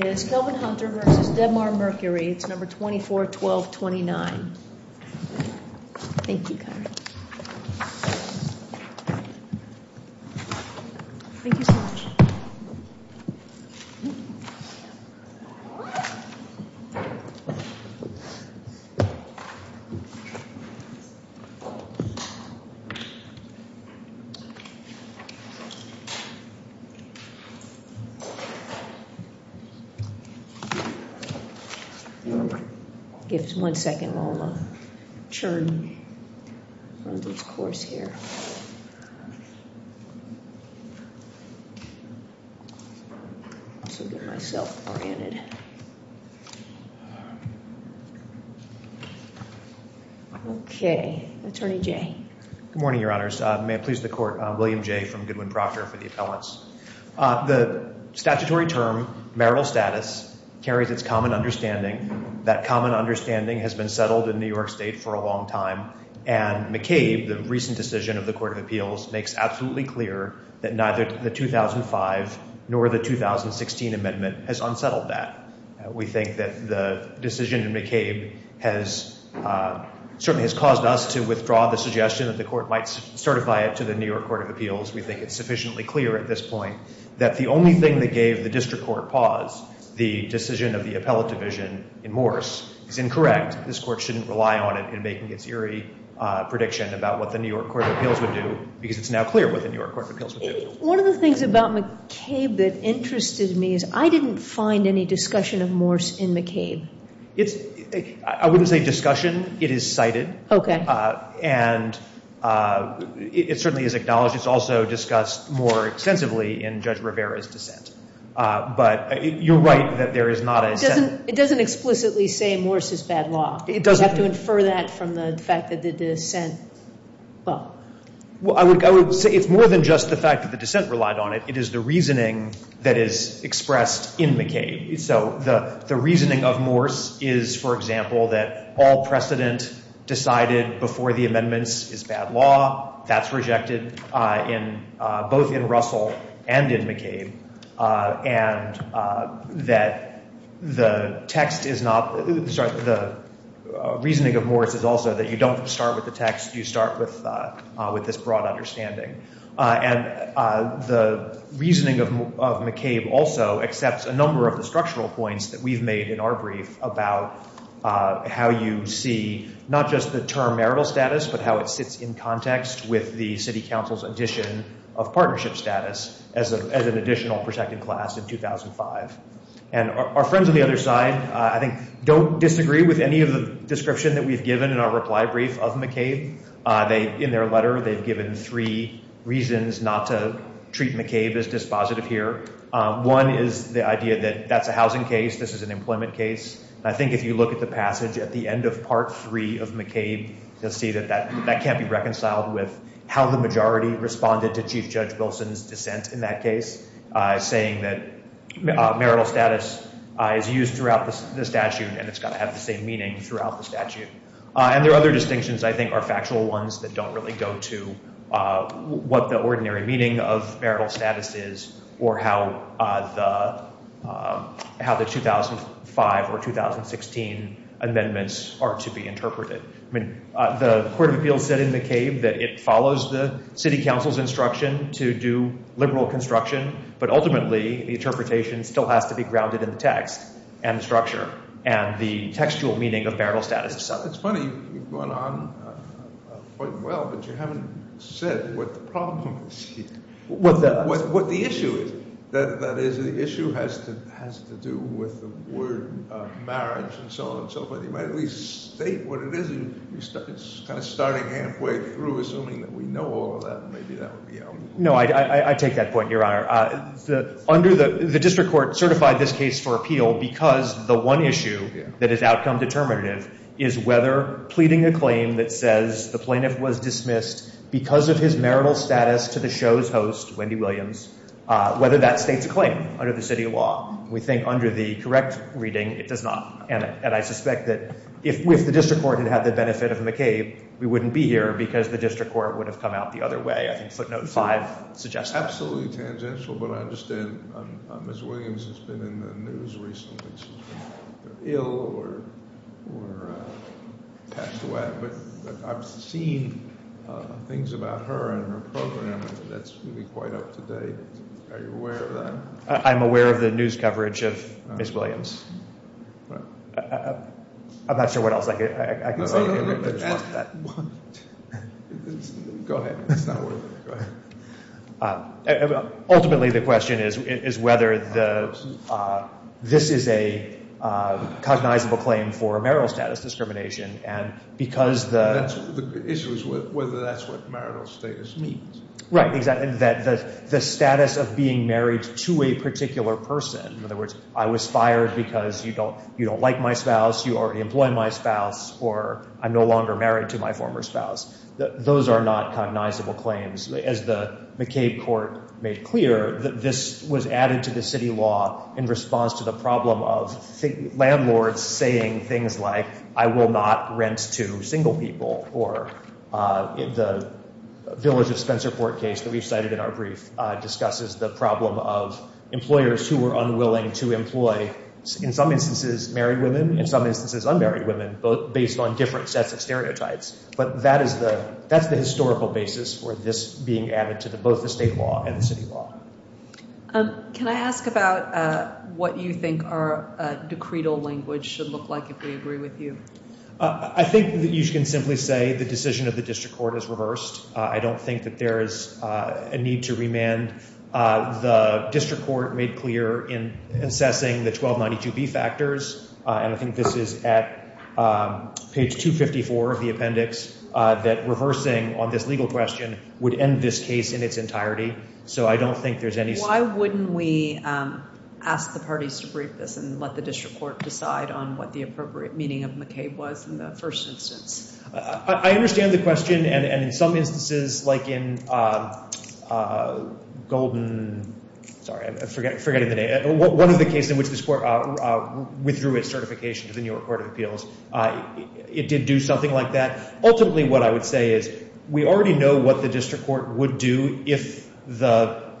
It is Kelvin Hunter v. Debmar-Mercury. It's number 241229. Thank you, Kyra. Thank you so much. Give us one second while I'm going to churn on this course here. Okay. Attorney Jay. Good morning, Your Honors. May it please the Court. William Jay from Goodwin Proctor for the appellants. The statutory term, marital status, carries its common understanding. That common understanding has been settled in New York State for a long time. And McCabe, the recent decision of the Court of Appeals, makes absolutely clear that neither the 2005 nor the 2016 amendment has unsettled that. We think that the decision in McCabe certainly has caused us to withdraw the suggestion that the Court might certify it to the New York Court of Appeals. We think it's sufficiently clear at this point that the only thing that gave the district court pause, the decision of the appellate division in Morse, is incorrect. This Court shouldn't rely on it in making its eerie prediction about what the New York Court of Appeals would do because it's now clear what the New York Court of Appeals would do. One of the things about McCabe that interested me is I didn't find any discussion of Morse in McCabe. I wouldn't say discussion. It is cited. Okay. And it certainly is acknowledged. It's also discussed more extensively in Judge Rivera's dissent. But you're right that there is not a sense— It doesn't explicitly say Morse is bad law. It doesn't. You have to infer that from the fact that the dissent— Well, I would say it's more than just the fact that the dissent relied on it. It is the reasoning that is expressed in McCabe. So the reasoning of Morse is, for example, that all precedent decided before the amendments is bad law. That's rejected both in Russell and in McCabe. And that the text is not— The reasoning of Morse is also that you don't start with the text. You start with this broad understanding. And the reasoning of McCabe also accepts a number of the structural points that we've made in our brief about how you see not just the term marital status but how it sits in context with the city council's addition of partnership status as an additional protected class in 2005. And our friends on the other side, I think, don't disagree with any of the description that we've given in our reply brief of McCabe. In their letter, they've given three reasons not to treat McCabe as dispositive here. One is the idea that that's a housing case, this is an employment case. I think if you look at the passage at the end of Part III of McCabe, you'll see that that can't be reconciled with how the majority responded to Chief Judge Wilson's dissent in that case, saying that marital status is used throughout the statute and it's got to have the same meaning throughout the statute. And there are other distinctions, I think, are factual ones that don't really go to what the ordinary meaning of marital status is or how the 2005 or 2016 amendments are to be interpreted. The Court of Appeals said in McCabe that it follows the city council's instruction to do liberal construction, but ultimately, the interpretation still has to be grounded in the text and the structure and the textual meaning of marital status itself. It's funny, you've gone on quite well, but you haven't said what the problem is here. What the issue is. That is, the issue has to do with the word marriage and so on and so forth. You might at least state what it is. You're kind of starting halfway through, assuming that we know all of that. Maybe that would be helpful. No, I take that point, Your Honor. The district court certified this case for appeal because the one issue that is outcome determinative is whether pleading a claim that says the plaintiff was dismissed because of his marital status to the show's host, Wendy Williams, whether that states a claim under the city law. We think under the correct reading, it does not. And I suspect that if the district court had had the benefit of McCabe, we wouldn't be here because the district court would have come out the other way. I think footnote 5 suggests that. Absolutely tangential, but I understand Ms. Williams has been in the news recently. She's been ill or passed away, but I've seen things about her and her program that's really quite up to date. Are you aware of that? I'm aware of the news coverage of Ms. Williams. I'm not sure what else I can say. Go ahead. Ultimately, the question is whether this is a cognizable claim for marital status discrimination. The issue is whether that's what marital status means. Right, exactly. The status of being married to a particular person. In other words, I was fired because you don't like my spouse, you already employ my spouse, or I'm no longer married to my former spouse. Those are not cognizable claims. As the McCabe court made clear, this was added to the city law in response to the problem of landlords saying things like, I will not rent to single people, or the Village of Spencerport case that we've cited in our brief discusses the problem of employers who are unwilling to employ, in some instances, married women, in some instances, unmarried women, based on different sets of stereotypes. But that's the historical basis for this being added to both the state law and the city law. Can I ask about what you think our decretal language should look like if we agree with you? I think that you can simply say the decision of the district court is reversed. I don't think that there is a need to remand. The district court made clear in assessing the 1292B factors, and I think this is at page 254 of the appendix, that reversing on this legal question would end this case in its entirety. Why wouldn't we ask the parties to brief this and let the district court decide on what the appropriate meaning of McCabe was in the first instance? I understand the question, and in some instances, like in Golden, sorry, I'm forgetting the name, one of the cases in which this court withdrew its certification to the New York Court of Appeals, it did do something like that. Ultimately, what I would say is we already know what the district court would do if it thought the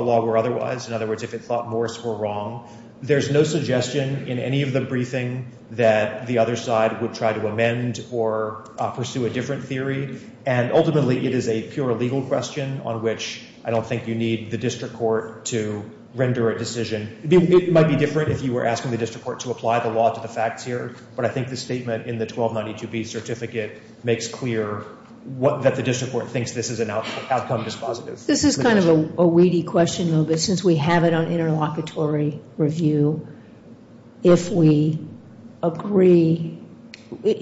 law were otherwise, in other words, if it thought Morse were wrong. There's no suggestion in any of the briefing that the other side would try to amend or pursue a different theory, and ultimately, it is a pure legal question on which I don't think you need the district court to render a decision. It might be different if you were asking the district court to apply the law to the facts here, but I think the statement in the 1292B certificate makes clear that the district court thinks this is an outcome dispositive. This is kind of a weedy question, though, but since we have it on interlocutory review, if we agree, would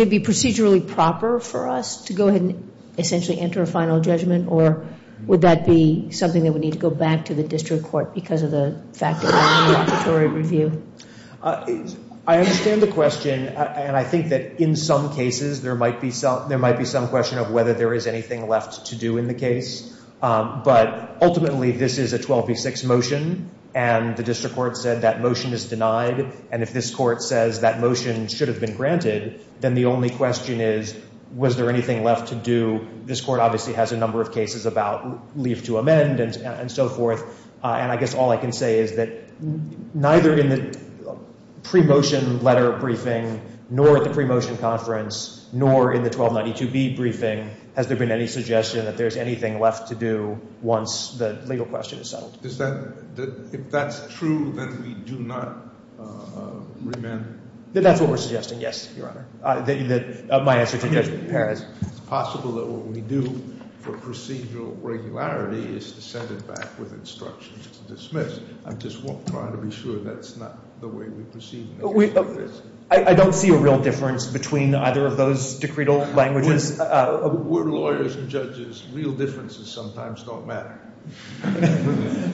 it be procedurally proper for us to go ahead and essentially enter a final judgment, or would that be something that would need to go back to the district court because of the fact of the interlocutory review? I understand the question, and I think that in some cases, there might be some question of whether there is anything left to do in the case, but ultimately, this is a 12B6 motion, and the district court said that motion is denied, and if this court says that motion should have been granted, then the only question is, was there anything left to do? This court obviously has a number of cases about leave to amend and so forth, and I guess all I can say is that neither in the pre-motion letter briefing nor at the pre-motion conference nor in the 1292B briefing has there been any suggestion that there's anything left to do once the legal question is settled. If that's true, then we do not remand? That's what we're suggesting, yes, Your Honor. My answer to your question. It's possible that what we do for procedural regularity is to send it back with instructions to dismiss. I'm just trying to be sure that's not the way we proceed in this case. I don't see a real difference between either of those decretal languages. We're lawyers and judges. Real differences sometimes don't matter.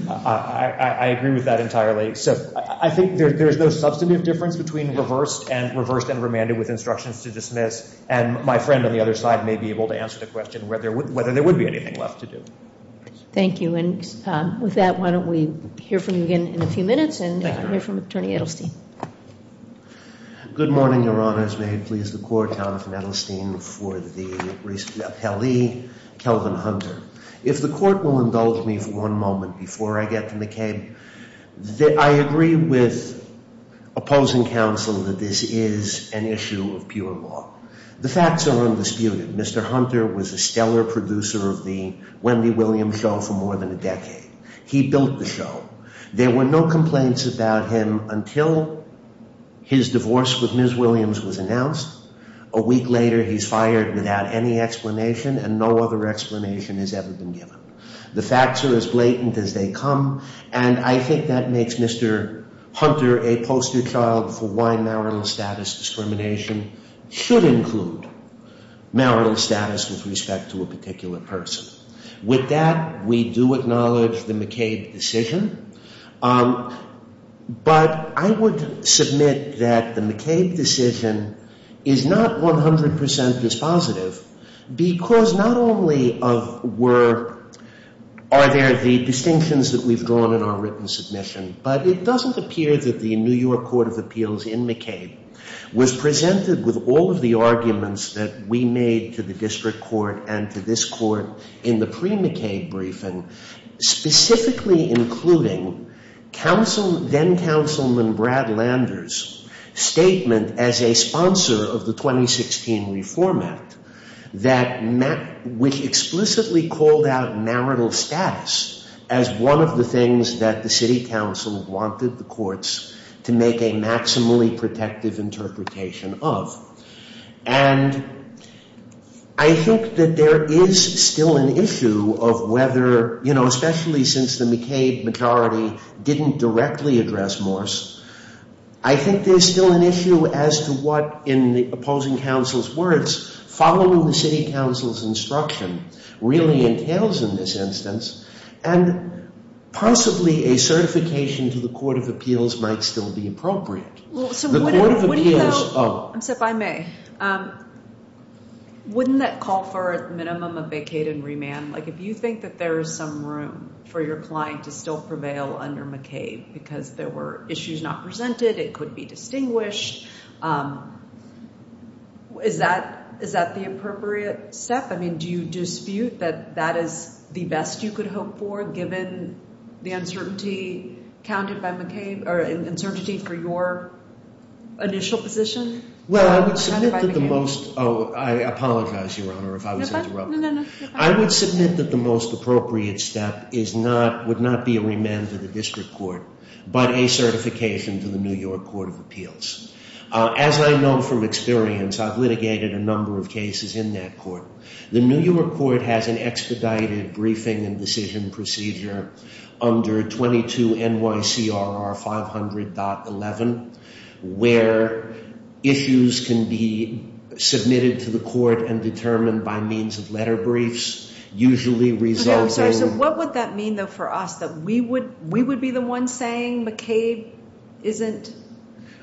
I agree with that entirely. I think there's no substantive difference between reversed and remanded with instructions to dismiss, and my friend on the other side may be able to answer the question whether there would be anything left to do. Thank you. With that, why don't we hear from you again in a few minutes and hear from Attorney Edelstein. Good morning, Your Honors. May it please the Court, Jonathan Edelstein for the appellee, Kelvin Hunter. If the Court will indulge me for one moment before I get to McCabe, I agree with opposing counsel that this is an issue of pure law. The facts are undisputed. Mr. Hunter was a stellar producer of the Wendy Williams show for more than a decade. He built the show. There were no complaints about him until his divorce with Ms. Williams was announced. A week later, he's fired without any explanation, and no other explanation has ever been given. The facts are as blatant as they come, and I think that makes Mr. Hunter a poster child for why marital status discrimination should include marital status with respect to a particular person. With that, we do acknowledge the McCabe decision, but I would submit that the McCabe decision is not 100% dispositive because not only are there the distinctions that we've drawn in our written submission, but it doesn't appear that the New York Court of Appeals in McCabe was presented with all of the arguments that we made to the district court and to this court in the pre-McCabe briefing, specifically including then-Councilman Brad Landers' statement as a sponsor of the 2016 Reform Act, which explicitly called out marital status as one of the things that the city council wanted the courts to make a maximally protective interpretation of. And I think that there is still an issue of whether, you know, especially since the McCabe majority didn't directly address Morse, I think there's still an issue as to what, in the opposing council's words, following the city council's instruction really entails in this instance, and possibly a certification to the Court of Appeals might still be appropriate. The Court of Appeals— Would you, though—I'm sorry, if I may—wouldn't that call for a minimum of vacate and remand? Like, if you think that there is some room for your client to still prevail under McCabe because there were issues not presented, it could be distinguished, is that the appropriate step? I mean, do you dispute that that is the best you could hope for given the uncertainty counted by McCabe, or uncertainty for your initial position? Well, I would submit that the most—oh, I apologize, Your Honor, if I was interrupting. I would submit that the most appropriate step is not—would not be a remand to the district court, but a certification to the New York Court of Appeals. As I know from experience, I've litigated a number of cases in that court. The New York Court has an expedited briefing and decision procedure under 22 NYCRR 500.11, where issues can be submitted to the court and determined by means of letter briefs, usually resulting— Okay, I'm sorry. So what would that mean, though, for us, that we would be the ones saying McCabe isn't—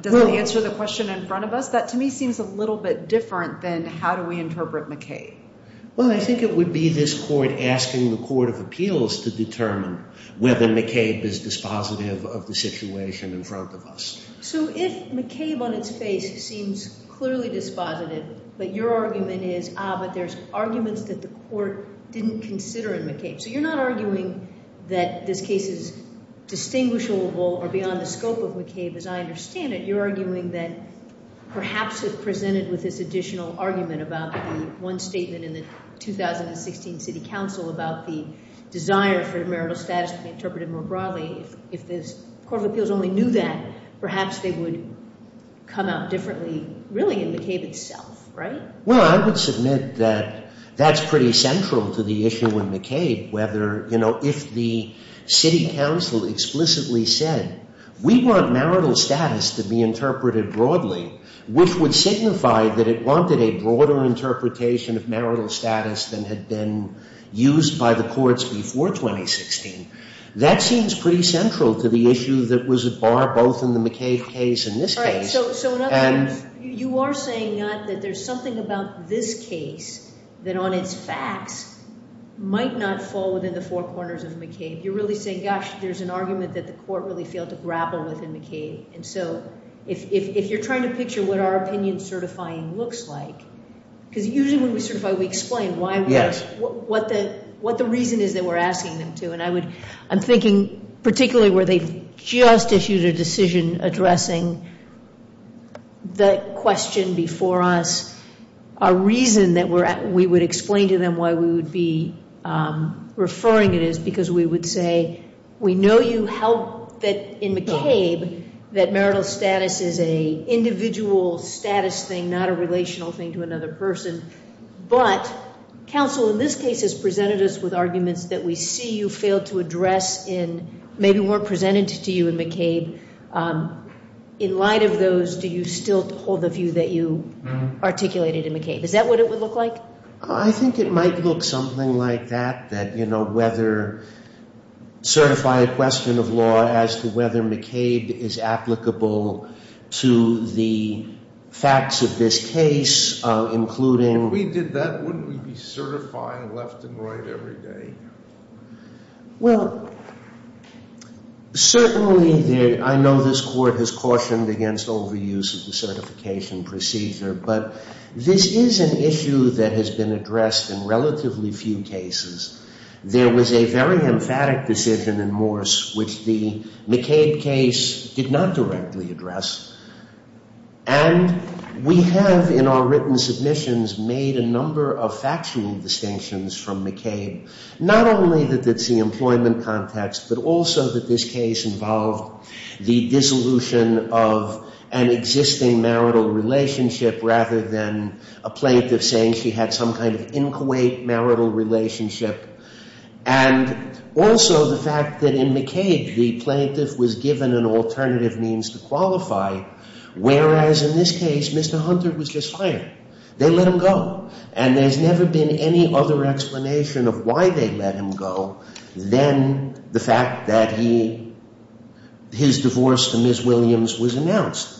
Does it answer the question in front of us? That, to me, seems a little bit different than how do we interpret McCabe. Well, I think it would be this court asking the Court of Appeals to determine whether McCabe is dispositive of the situation in front of us. So if McCabe on its face seems clearly dispositive, but your argument is, ah, but there's arguments that the court didn't consider in McCabe. So you're not arguing that this case is distinguishable or beyond the scope of McCabe as I understand it. You're arguing that perhaps if presented with this additional argument about the one statement in the 2016 City Council about the desire for marital status to be interpreted more broadly, if the Court of Appeals only knew that, perhaps they would come out differently, really, in McCabe itself, right? Well, I would submit that that's pretty central to the issue in McCabe, whether, you know, if the City Council explicitly said, we want marital status to be interpreted broadly, which would signify that it wanted a broader interpretation of marital status than had been used by the courts before 2016. That seems pretty central to the issue that was at bar both in the McCabe case and this case. You are saying that there's something about this case that on its facts might not fall within the four corners of McCabe. You're really saying, gosh, there's an argument that the court really failed to grapple with in McCabe. And so if you're trying to picture what our opinion certifying looks like, because usually when we certify, we explain what the reason is that we're asking them to. And I'm thinking particularly where they've just issued a decision addressing the question before us, a reason that we would explain to them why we would be referring it is because we would say, we know you held that in McCabe that marital status is an individual status thing, not a relational thing to another person. But counsel, in this case, has presented us with arguments that we see you failed to address in maybe weren't presented to you in McCabe. In light of those, do you still hold the view that you articulated in McCabe? Is that what it would look like? I think it might look something like that, that, you know, whether certified question of law as to whether McCabe is applicable to the facts of this case, If we did that, wouldn't we be certifying left and right every day? Well, certainly I know this Court has cautioned against overuse of the certification procedure, but this is an issue that has been addressed in relatively few cases. There was a very emphatic decision in Morse, which the McCabe case did not directly address. And we have, in our written submissions, made a number of factual distinctions from McCabe, not only that it's the employment context, but also that this case involved the dissolution of an existing marital relationship rather than a plaintiff saying she had some kind of inchoate marital relationship. And also the fact that in McCabe, the plaintiff was given an alternative means to qualify, whereas in this case, Mr. Hunter was just fired. They let him go. And there's never been any other explanation of why they let him go than the fact that he, his divorce to Ms. Williams was announced.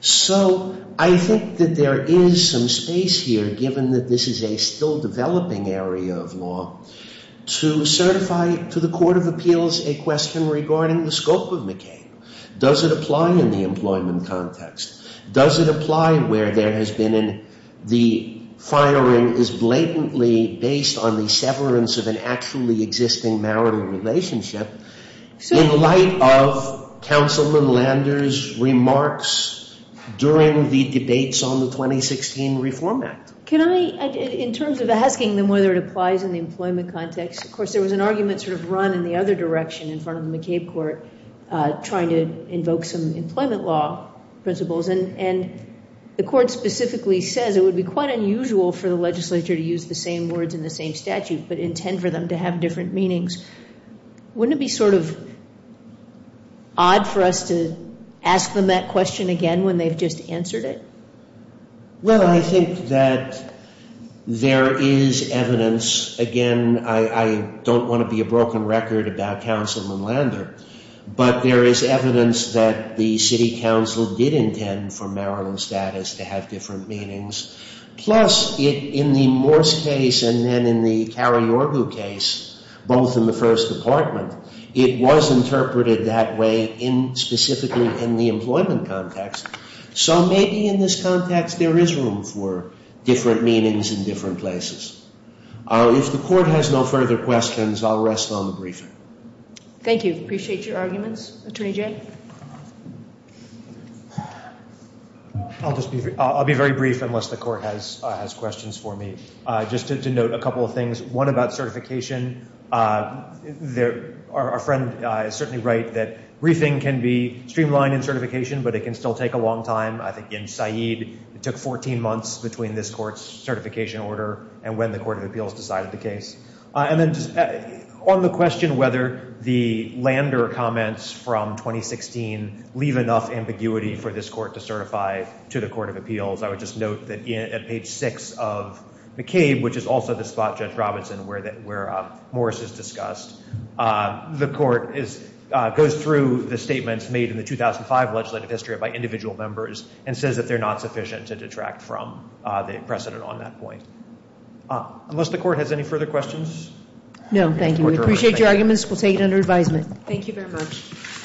So I think that there is some space here, given that this is a still developing area of law, to certify to the Court of Appeals a question regarding the scope of McCabe. Does it apply in the employment context? Does it apply where there has been the firing is blatantly based on the severance of an actually existing marital relationship in light of Councilman Landers' remarks during the debates on the 2016 Reform Act? Can I, in terms of asking them whether it applies in the employment context, of course there was an argument sort of run in the other direction in front of the McCabe court, trying to invoke some employment law principles. And the court specifically says it would be quite unusual for the legislature to use the same words in the same statute, but intend for them to have different meanings. Wouldn't it be sort of odd for us to ask them that question again when they've just answered it? Well, I think that there is evidence. Again, I don't want to be a broken record about Councilman Lander, but there is evidence that the City Council did intend for marital status to have different meanings. Plus, in the Morse case and then in the Carriorgo case, both in the First Department, it was interpreted that way specifically in the employment context. So maybe in this context there is room for different meanings in different places. If the court has no further questions, I'll rest on the briefing. Thank you. Appreciate your arguments. Attorney Jay? I'll be very brief unless the court has questions for me. Just to note a couple of things. One about certification. Our friend is certainly right that briefing can be streamlined in certification, but it can still take a long time. I think in Said it took 14 months between this court's certification order and when the Court of Appeals decided the case. And then on the question whether the Lander comments from 2016 leave enough ambiguity for this court to certify to the Court of Appeals, I would just note that at page 6 of McCabe, which is also the spot, Judge Robinson, where Morse is discussed, the court goes through the statements made in the 2005 legislative history by individual members and says that they're not sufficient to detract from the precedent on that point. Unless the court has any further questions? No, thank you. We appreciate your arguments. We'll take it under advisement. Thank you very much.